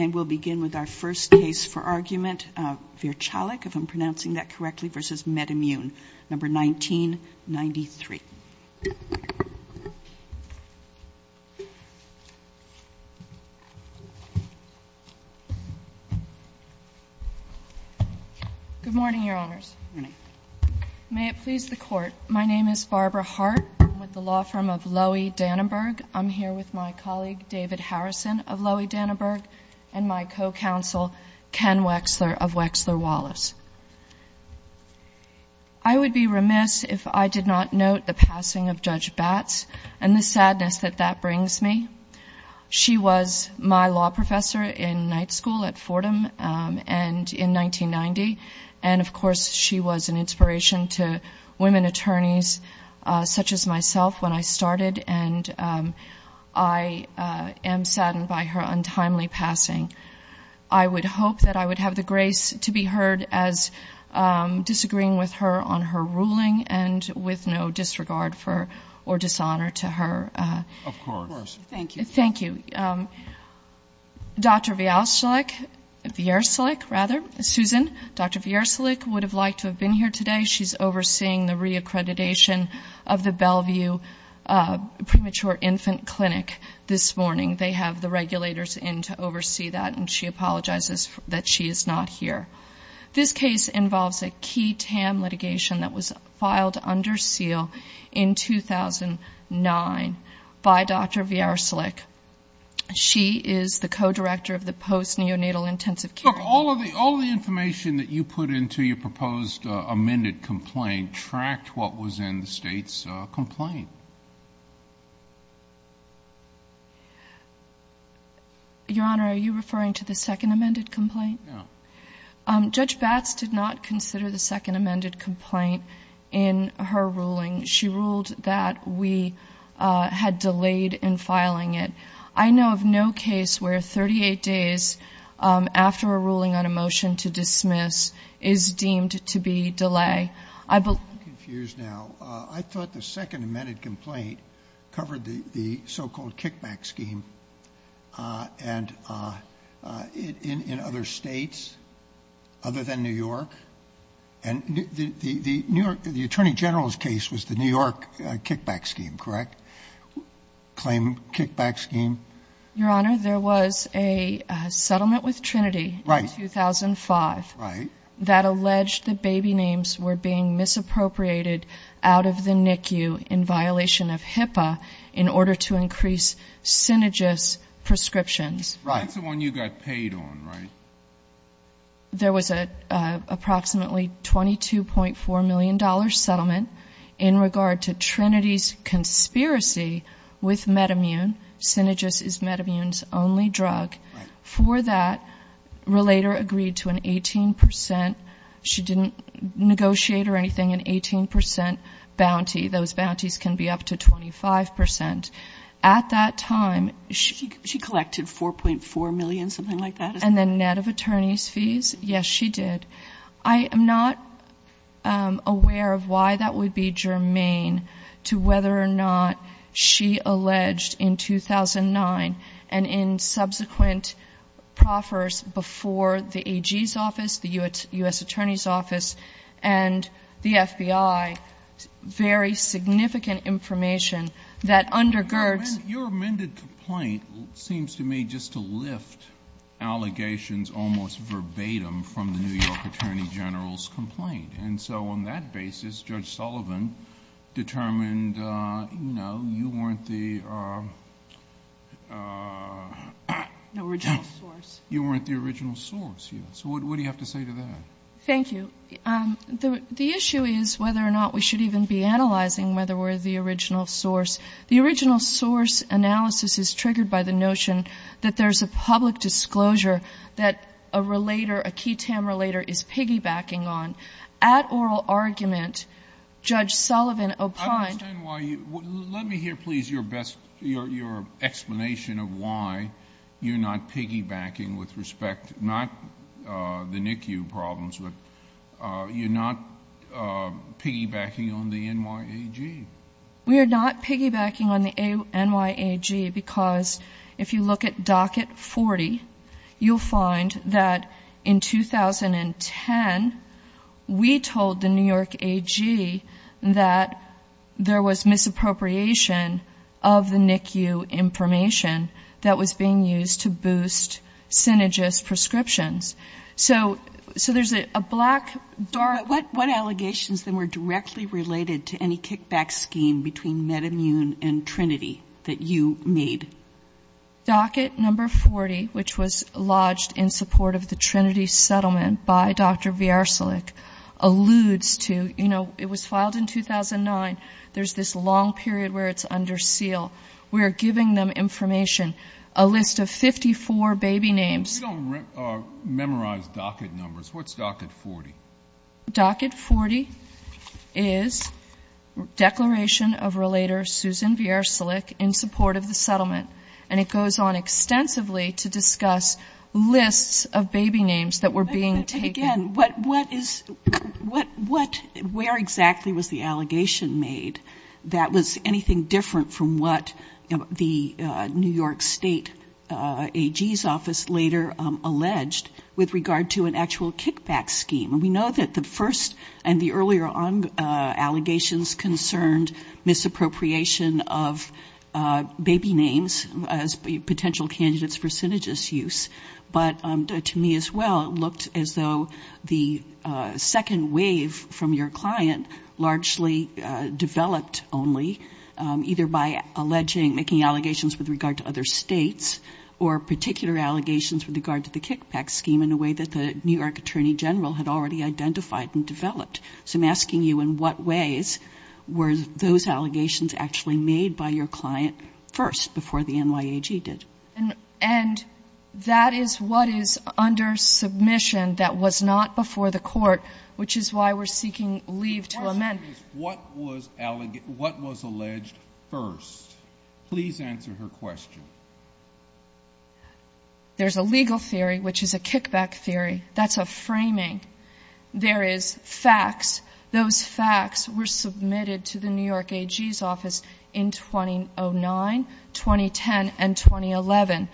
And we'll begin with our first case for argument, Virchalik, if I'm pronouncing that correctly, versus Metamune, number 1993. Good morning, your honors. May it please the court, my name is Barbara Hart. I'm with the law firm of Lowy Danenberg. I'm here with my colleague David Harrison of Lowy Danenberg. And my co-counsel, Ken Wexler of Wexler Wallace. I would be remiss if I did not note the passing of Judge Batts and the sadness that that brings me. She was my law professor in night school at Fordham and in 1990. And of course, she was an inspiration to women attorneys such as myself when I I would hope that I would have the grace to be heard as disagreeing with her on her ruling and with no disregard for, or dishonor to her. Of course. Thank you. Thank you. Dr. Vyalsalik, Vyarsalik rather, Susan, Dr. Vyarsalik would have liked to have been here today. She's overseeing the reaccreditation of the Bellevue premature infant clinic. This morning, they have the regulators in to oversee that and she apologizes that she is not here. This case involves a key TAM litigation that was filed under seal in 2009 by Dr. Vyarsalik. She is the co-director of the post neonatal intensive care. Look, all of the, all of the information that you put into your proposed amended complaint tracked what was in the state's complaint. Your Honor, are you referring to the second amended complaint? No. Judge Batts did not consider the second amended complaint in her ruling. She ruled that we had delayed in filing it. I know of no case where 38 days after a ruling on a motion to dismiss is deemed to be delay. I believe... I'm confused now. I thought the second amended complaint covered the so-called kickback scheme and in other states other than New York and the New York, the attorney general's case was the New York kickback scheme, correct? Claim kickback scheme. Your Honor, there was a settlement with Trinity in 2005 that alleged the baby was appropriated out of the NICU in violation of HIPAA in order to increase Synergis prescriptions. That's the one you got paid on, right? There was a approximately $22.4 million settlement in regard to Trinity's conspiracy with Metamune. Synergis is Metamune's only drug. For that, relator agreed to an 18%. She didn't negotiate or anything, an 18% bounty. Those bounties can be up to 25%. At that time... She collected $4.4 million, something like that? And then net of attorney's fees? Yes, she did. I am not aware of why that would be germane to whether or not she alleged in 2009 and in subsequent proffers before the AG's office, the U.S. Attorney's office, and the FBI, very significant information that undergirds... Your amended complaint seems to me just to lift allegations almost verbatim from the New York attorney general's complaint. And so on that basis, Judge Sullivan determined, you know, you weren't the... Original source. You weren't the original source. So what do you have to say to that? Thank you. The issue is whether or not we should even be analyzing whether we're the original source. The original source analysis is triggered by the notion that there's a public disclosure that a key TAM relator is piggybacking on. At oral argument, Judge Sullivan opined... I don't understand why you... Let me hear, please, your best... Your explanation of why you're not piggybacking with respect... Not the NICU problems, but you're not piggybacking on the NYAG. We are not piggybacking on the NYAG because if you look at docket 40, you'll find that in 2010, we told the New York AG that there was misappropriation of the NICU information that was being used to boost synergist prescriptions. So there's a black, dark... What allegations then were directly related to any kickback scheme between MedImmune and Trinity that you made? Docket number 40, which was lodged in support of the Trinity settlement by Dr. Vyarsalik, alludes to, you know, it was filed in 2009. There's this long period where it's under seal. We're giving them information, a list of 54 baby names... You don't memorize docket numbers. What's docket 40? Docket 40 is declaration of relator Susan Vyarsalik in support of the settlement, and it goes on extensively to discuss lists of baby names that were being taken. But again, where exactly was the allegation made that was anything different from what the New York State AG's office later alleged with regard to an actual kickback scheme? We know that the first and the earlier allegations concerned misappropriation of baby names as potential candidates for synergist use. But to me as well, it looked as though the second wave from your client largely developed only either by alleging, making allegations with regard to other states, or particular allegations with regard to the kickback scheme in a way that the New York Attorney General had already identified and developed. So I'm asking you in what ways were those allegations actually made by your client first before the NYAG did? And that is what is under submission that was not before the court, which is why we're seeking leave to amend. What was alleged first? Please answer her question. There's a legal theory, which is a kickback theory. That's a framing. There is facts. Those facts were submitted to the New York AG's office in 2009, 2010, and 2011.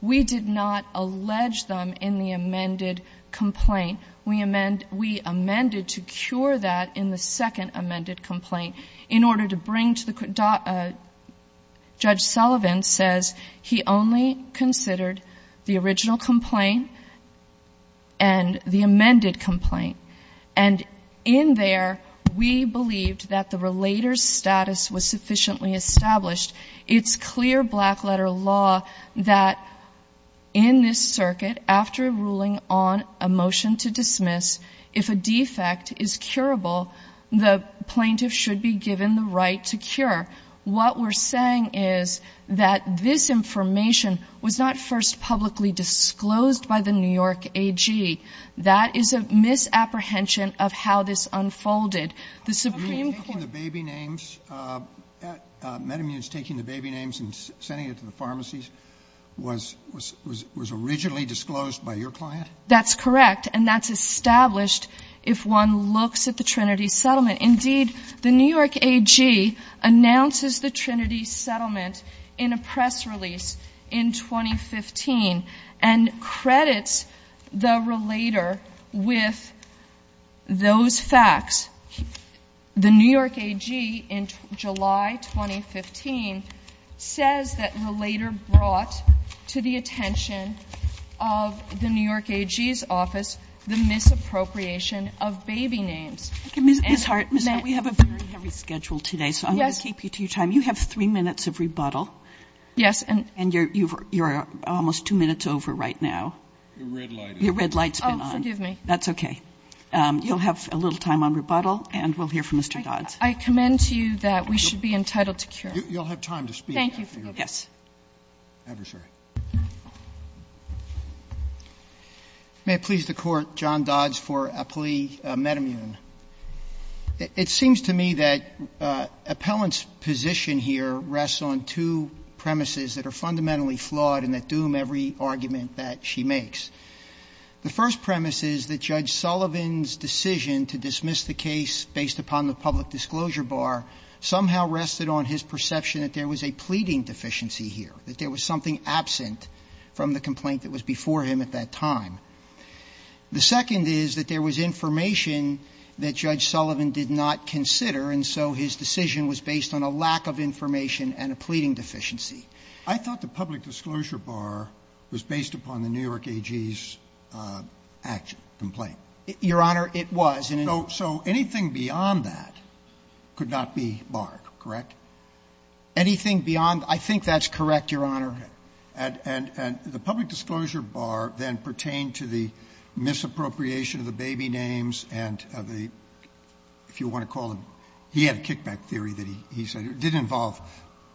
We did not allege them in the amended complaint. We amended to cure that in the second amended complaint in order to bring to the court. Judge Sullivan says he only considered the original complaint and the amended complaint. And in there, we believed that the relator's status was sufficiently established. It's clear black letter law that in this circuit, after ruling on a motion to dismiss, if a defect is curable, the plaintiff should be given the right to cure. What we're saying is that this information was not first publicly disclosed by the New York AG. That is a misapprehension of how this unfolded. The Supreme Court— Are you taking the baby names, metamuse taking the baby names and sending it to the pharmacies, was originally disclosed by your client? That's correct. And that's established if one looks at the Trinity Settlement. Indeed, the New York AG announces the Trinity Settlement in a press release in 2015 and credits the relator with those facts. The New York AG, in July 2015, says that the relator brought to the attention of the New York AG's office the misappropriation of baby names. Ms. Hart, we have a very heavy schedule today, so I'm going to keep you to your time. You have three minutes of rebuttal. Yes. And you're almost two minutes over right now. Your red light is on. Your red light's been on. Oh, forgive me. That's okay. You'll have a little time on rebuttal, and we'll hear from Mr. Dodds. I commend to you that we should be entitled to cure. You'll have time to speak after you're done. Thank you. Yes. Adversary. May it please the Court, John Dodds for Appellee Metamune. It seems to me that Appellant's position here rests on two premises that are fundamentally flawed and that doom every argument that she makes. The first premise is that Judge Sullivan's decision to dismiss the case based upon the public disclosure bar somehow rested on his perception that there was a pleading deficiency here, that there was something absent from the complaint that was before him at that time. The second is that there was information that Judge Sullivan did not consider, and so his decision was based on a lack of information and a pleading deficiency. I thought the public disclosure bar was based upon the New York AG's action, complaint. Your Honor, it was. So anything beyond that could not be barred, correct? Anything beyond the – I think that's correct, Your Honor. And the public disclosure bar then pertained to the misappropriation of the baby names and of the – if you want to call them – he had a kickback theory that he said it didn't involve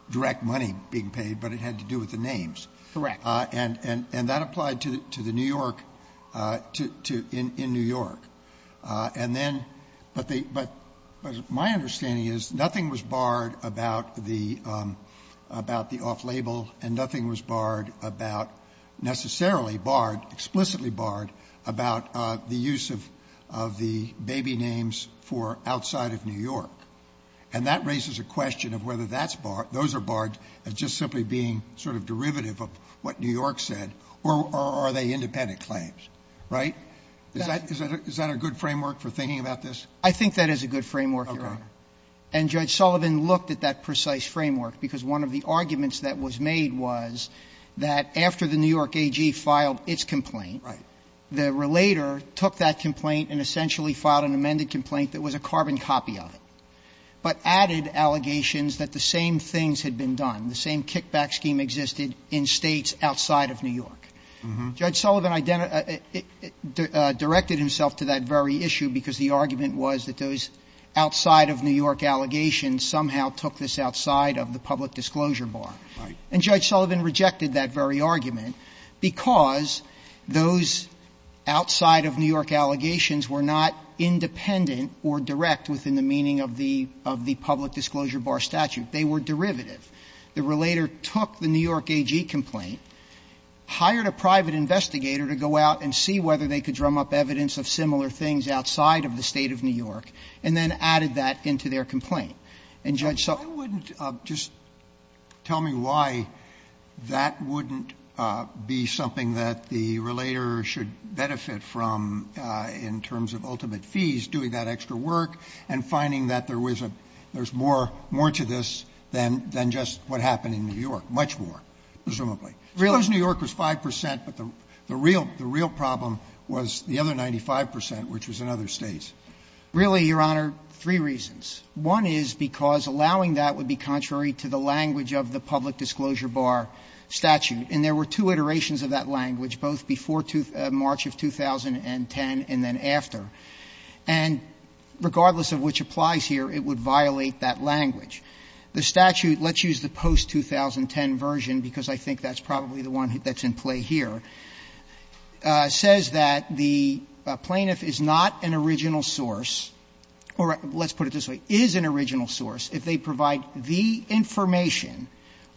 direct money being paid, but it had to do with the names. Correct. And that applied to the New York – to – in New York. And then – but my understanding is nothing was barred about the off-label and nothing was barred about – necessarily barred, explicitly barred about the use of the baby names for outside of New York. And that raises a question of whether that's barred – those are barred as just simply being sort of derivative of what New York said, or are they independent claims, right? Is that a good framework for thinking about this? I think that is a good framework, Your Honor. And Judge Sullivan looked at that precise framework because one of the arguments that was made was that after the New York AG filed its complaint, the relator took that complaint and essentially filed an amended complaint that was a carbon copy of it, but added allegations that the same things had been done, the same kickback scheme existed in states outside of New York. Judge Sullivan directed himself to that very issue because the argument was that those outside of New York allegations somehow took this outside of the public disclosure bar. Right. And Judge Sullivan rejected that very argument because those outside of New York allegations were not independent or direct within the meaning of the public disclosure bar statute. They were derivative. The relator took the New York AG complaint, hired a private investigator to go out and see whether they could drum up evidence of similar things outside of the State of New York, and then added that into their complaint. And Judge Sullivan – Why wouldn't – just tell me why that wouldn't be something that the relator should benefit from in terms of ultimate fees, doing that extra work and finding that there was a – there's more to this than just what happened in New York, much more, presumably. I suppose New York was 5 percent, but the real problem was the other 95 percent, which was in other States. Really, Your Honor, three reasons. One is because allowing that would be contrary to the language of the public disclosure bar statute, and there were two iterations of that language, both before March of 2010 and then after. And regardless of which applies here, it would violate that language. The statute, let's use the post-2010 version because I think that's probably the one that's in play here, says that the plaintiff is not an original source or, let's put it this way, is an original source if they provide the information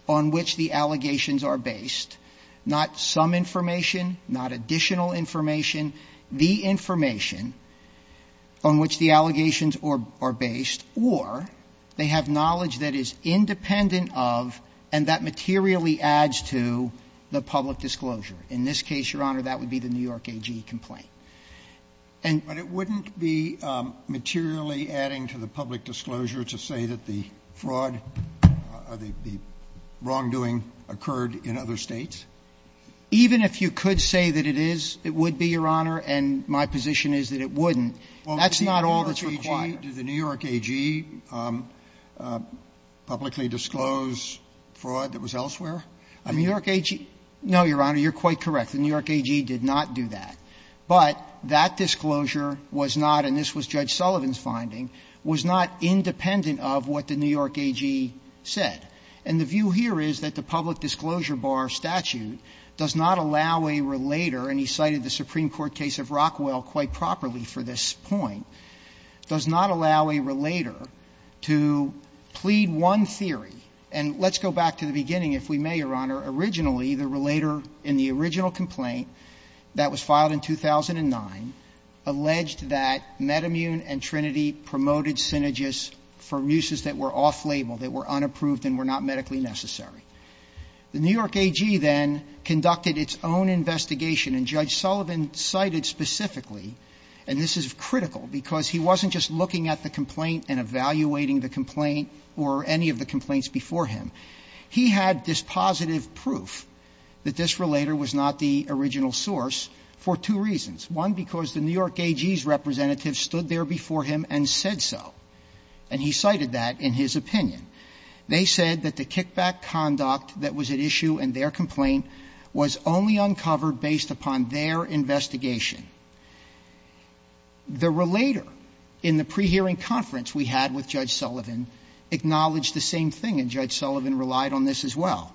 on which the allegations are based, not some information, not additional information, the information on which the allegations are based, or they have knowledge that is independent of and that materially adds to the public disclosure. In this case, Your Honor, that would be the New York AG complaint. And – But it wouldn't be materially adding to the public disclosure to say that the fraud or the wrongdoing occurred in other States? Even if you could say that it is, it would be, Your Honor, and my position is that it wouldn't. That's not all that's required. Well, did the New York AG publicly disclose fraud that was elsewhere? The New York AG? No, Your Honor, you're quite correct. The New York AG did not do that. But that disclosure was not, and this was Judge Sullivan's finding, was not independent of what the New York AG said. And the view here is that the public disclosure bar statute does not allow a relator – and he cited the Supreme Court case of Rockwell quite properly for this point – does not allow a relator to plead one theory. And let's go back to the beginning, if we may, Your Honor. Originally, the relator in the original complaint that was filed in 2009 alleged that Metamune and Trinity promoted synergists for muses that were off-label, that were unapproved and were not medically necessary. The New York AG then conducted its own investigation. And Judge Sullivan cited specifically – and this is critical because he wasn't just looking at the complaint and evaluating the complaint or any of the complaints before him – he had this positive proof that this relator was not the original source for two reasons. One, because the New York AG's representative stood there before him and said so, and he cited that in his opinion. They said that the kickback conduct that was at issue in their complaint was only uncovered based upon their investigation. The relator in the pre-hearing conference we had with Judge Sullivan acknowledged the same thing, and Judge Sullivan relied on this as well.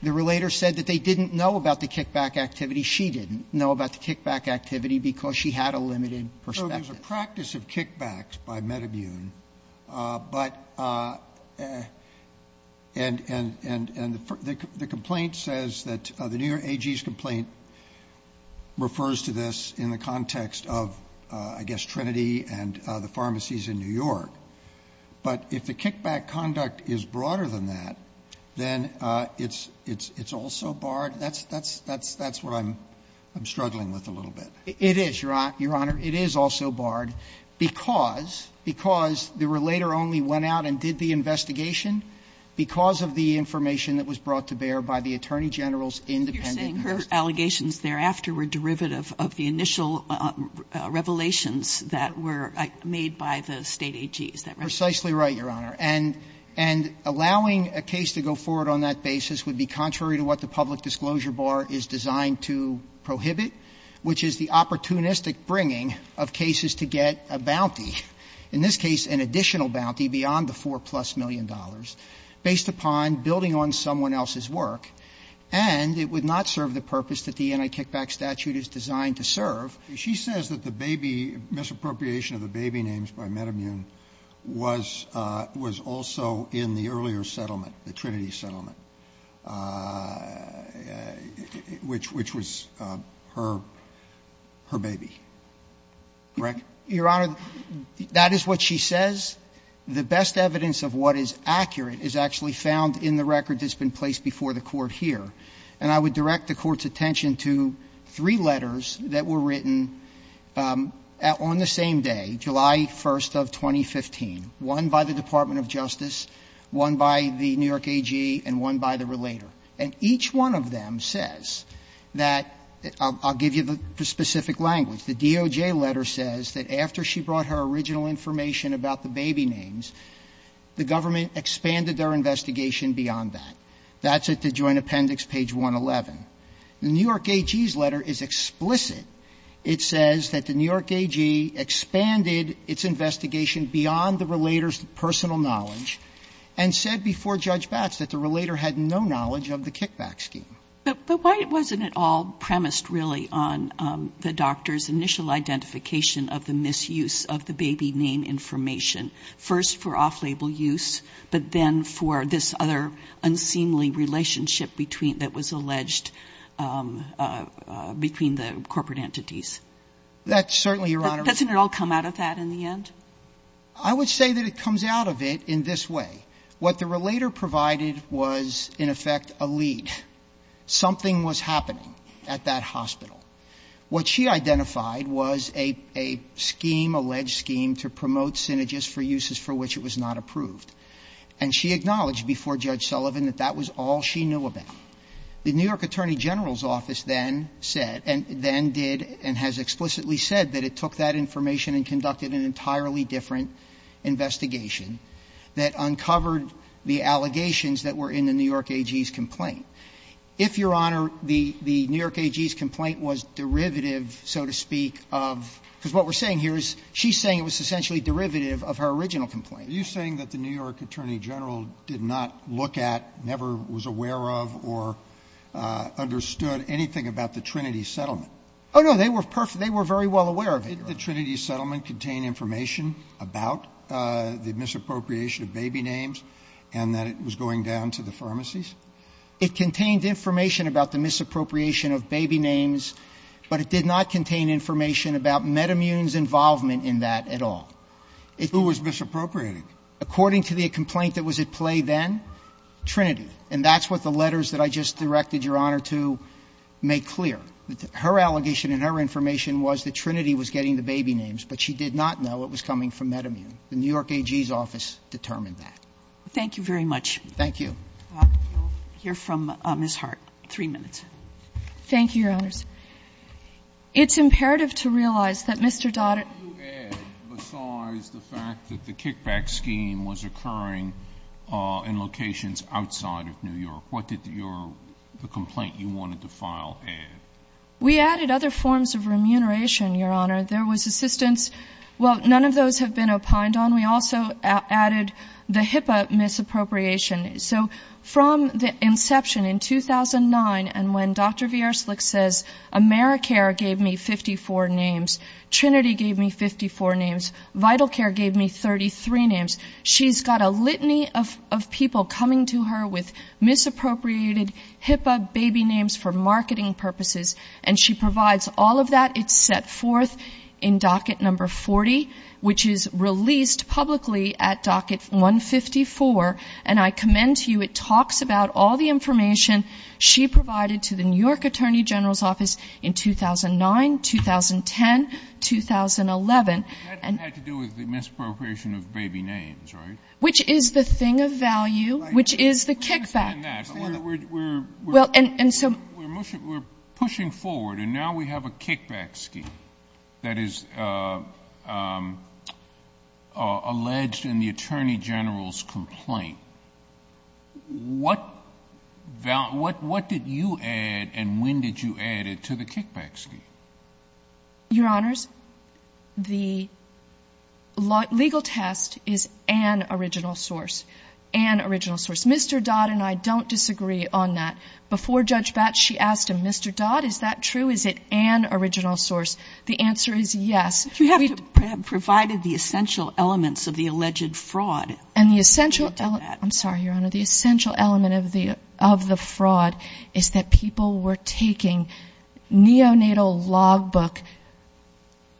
The relator said that they didn't know about the kickback activity. She didn't know about the kickback activity because she had a limited perspective. There's a practice of kickbacks by metamune, but – and the complaint says that the New York AG's complaint refers to this in the context of, I guess, Trinity and the pharmacies in New York. But if the kickback conduct is broader than that, then it's also barred. That's what I'm struggling with a little bit. It is, Your Honor. It is also barred because the relator only went out and did the investigation because of the information that was brought to bear by the Attorney General's Kagan. Kagan. But you're saying her allegations thereafter were derivative of the initial revelations that were made by the State AG, is that right? Precisely right, Your Honor. And allowing a case to go forward on that basis would be contrary to what the public It would be a opportunistic bringing of cases to get a bounty, in this case an additional bounty beyond the four plus million dollars, based upon building on someone else's work, and it would not serve the purpose that the anti-kickback statute is designed to serve. She says that the baby, misappropriation of the baby names by Metamune was also in the baby. Correct? Your Honor, that is what she says. The best evidence of what is accurate is actually found in the record that's been placed before the Court here. And I would direct the Court's attention to three letters that were written on the same day, July 1st of 2015. One by the Department of Justice, one by the New York AG, and one by the relator. And each one of them says that, I'll give you the specific language, the DOJ letter says that after she brought her original information about the baby names, the government expanded their investigation beyond that. That's at the Joint Appendix, page 111. The New York AG's letter is explicit. It says that the New York AG expanded its investigation beyond the relator's personal knowledge and said before Judge Batts that the relator had no knowledge of the kickback scheme. But why wasn't it all premised, really, on the doctor's initial identification of the misuse of the baby name information, first for off-label use, but then for this other unseemly relationship between, that was alleged between the corporate entities? That's certainly, Your Honor. Doesn't it all come out of that in the end? I would say that it comes out of it in this way. What the relator provided was, in effect, a lead. Something was happening at that hospital. What she identified was a scheme, alleged scheme, to promote synergies for uses for which it was not approved. And she acknowledged before Judge Sullivan that that was all she knew about. The New York Attorney General's office then said, and then did, and has explicitly said that it took that information and conducted an entirely different investigation that uncovered the allegations that were in the New York AG's complaint. If, Your Honor, the New York AG's complaint was derivative, so to speak, of – because what we're saying here is she's saying it was essentially derivative of her original complaint. Are you saying that the New York Attorney General did not look at, never was aware of, or understood anything about the Trinity settlement? Oh, no, they were perfect. They were very well aware of it, Your Honor. Did the Trinity settlement contain information about the misappropriation of baby names and that it was going down to the pharmacies? It contained information about the misappropriation of baby names, but it did not contain information about Metamune's involvement in that at all. Who was misappropriating? According to the complaint that was at play then, Trinity. And that's what the letters that I just directed, Your Honor, to make clear. Her allegation and her information was that Trinity was getting the baby names, but she did not know it was coming from Metamune. The New York AG's office determined that. Thank you very much. Thank you. We'll hear from Ms. Hart. Three minutes. Thank you, Your Honors. It's imperative to realize that Mr. Dodd – What did you add besides the fact that the kickback scheme was occurring in locations outside of New York? What did the complaint you wanted to file add? We added other forms of remuneration, Your Honor. There was assistance. Well, none of those have been opined on. We also added the HIPAA misappropriation. So from the inception in 2009 and when Dr. V.R. Slick says AmeriCare gave me 54 names, Trinity gave me 54 names, Vital Care gave me 33 names, she's got a litany of people coming to her with misappropriated HIPAA baby names for marketing purposes, and she provides all of that. It's set forth in docket number 40, which is released publicly at docket 154, and I commend to you it talks about all the information she provided to the New York Attorney General's office in 2009, 2010, 2011. That had to do with the misappropriation of baby names, right? Which is the thing of value, which is the kickback. We're pushing forward and now we have a kickback scheme that is alleged in the Attorney General's complaint. What did you add and when did you add it to the kickback scheme? Your Honors, the legal test is an original source. An original source. Mr. Dodd and I don't disagree on that. Before Judge Batch, she asked him, Mr. Dodd, is that true? Is it an original source? The answer is yes. You have to provide the essential elements of the alleged fraud. And the essential element, I'm sorry, Your Honor, the essential element of the fraud is that people were taking neonatal log book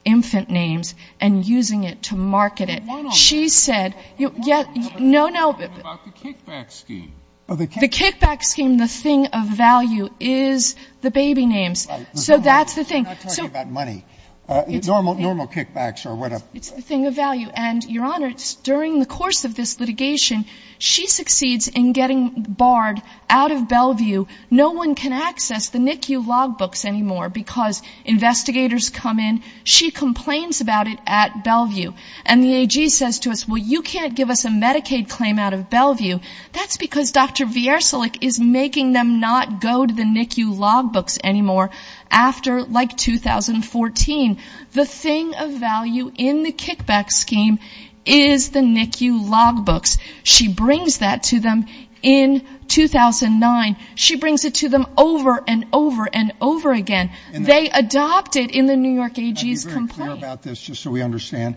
infant names and using it to market it. Why not? She said, no, no. What about the kickback scheme? The kickback scheme, the thing of value is the baby names. Right. So that's the thing. I'm not talking about money. Normal kickbacks or whatever. It's the thing of value. And, Your Honor, during the course of this litigation, she succeeds in getting Bard out of Bellevue. No one can access the NICU log books anymore because investigators come in. She complains about it at Bellevue. And the AG says to us, well, you can't give us a Medicaid claim out of Bellevue. That's because Dr. Viercilic is making them not go to the NICU log books anymore after, like, 2014. The thing of value in the kickback scheme is the NICU log books. She brings that to them in 2009. She brings it to them over and over and over again. They adopt it in the New York AG's complaint. Let me be very clear about this just so we understand.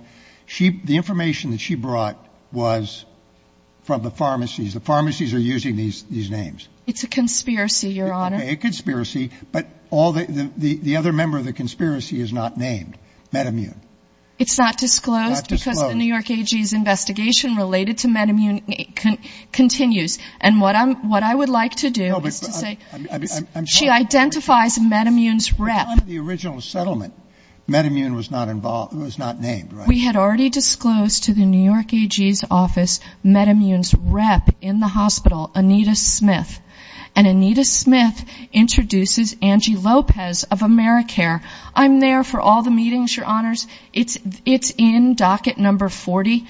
The information that she brought was from the pharmacies. The pharmacies are using these names. It's a conspiracy, Your Honor. Okay, a conspiracy. But the other member of the conspiracy is not named, MedImmune. It's not disclosed because the New York AG's investigation related to MedImmune continues. And what I would like to do is to say she identifies MedImmune's rep. At the time of the original settlement, MedImmune was not named, right? We had already disclosed to the New York AG's office MedImmune's rep in the hospital, Anita Smith. And Anita Smith introduces Angie Lopez of AmeriCare. I'm there for all the meetings, Your Honors. It's in docket number 40.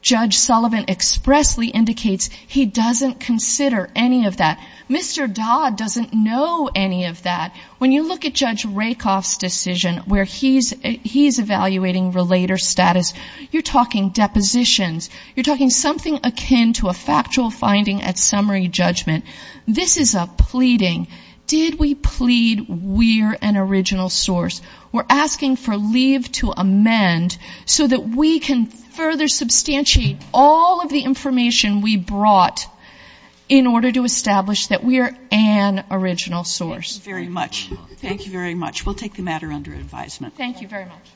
Judge Sullivan expressly indicates he doesn't consider any of that. Mr. Dodd doesn't know any of that. When you look at Judge Rakoff's decision where he's evaluating relator status, you're talking depositions. You're talking something akin to a factual finding at summary judgment. This is a pleading. Did we plead we're an original source? We're asking for leave to amend so that we can further substantiate all of the information we brought in order to establish that we are an original source. Thank you very much. Thank you very much. We'll take the matter under advisement. Thank you very much.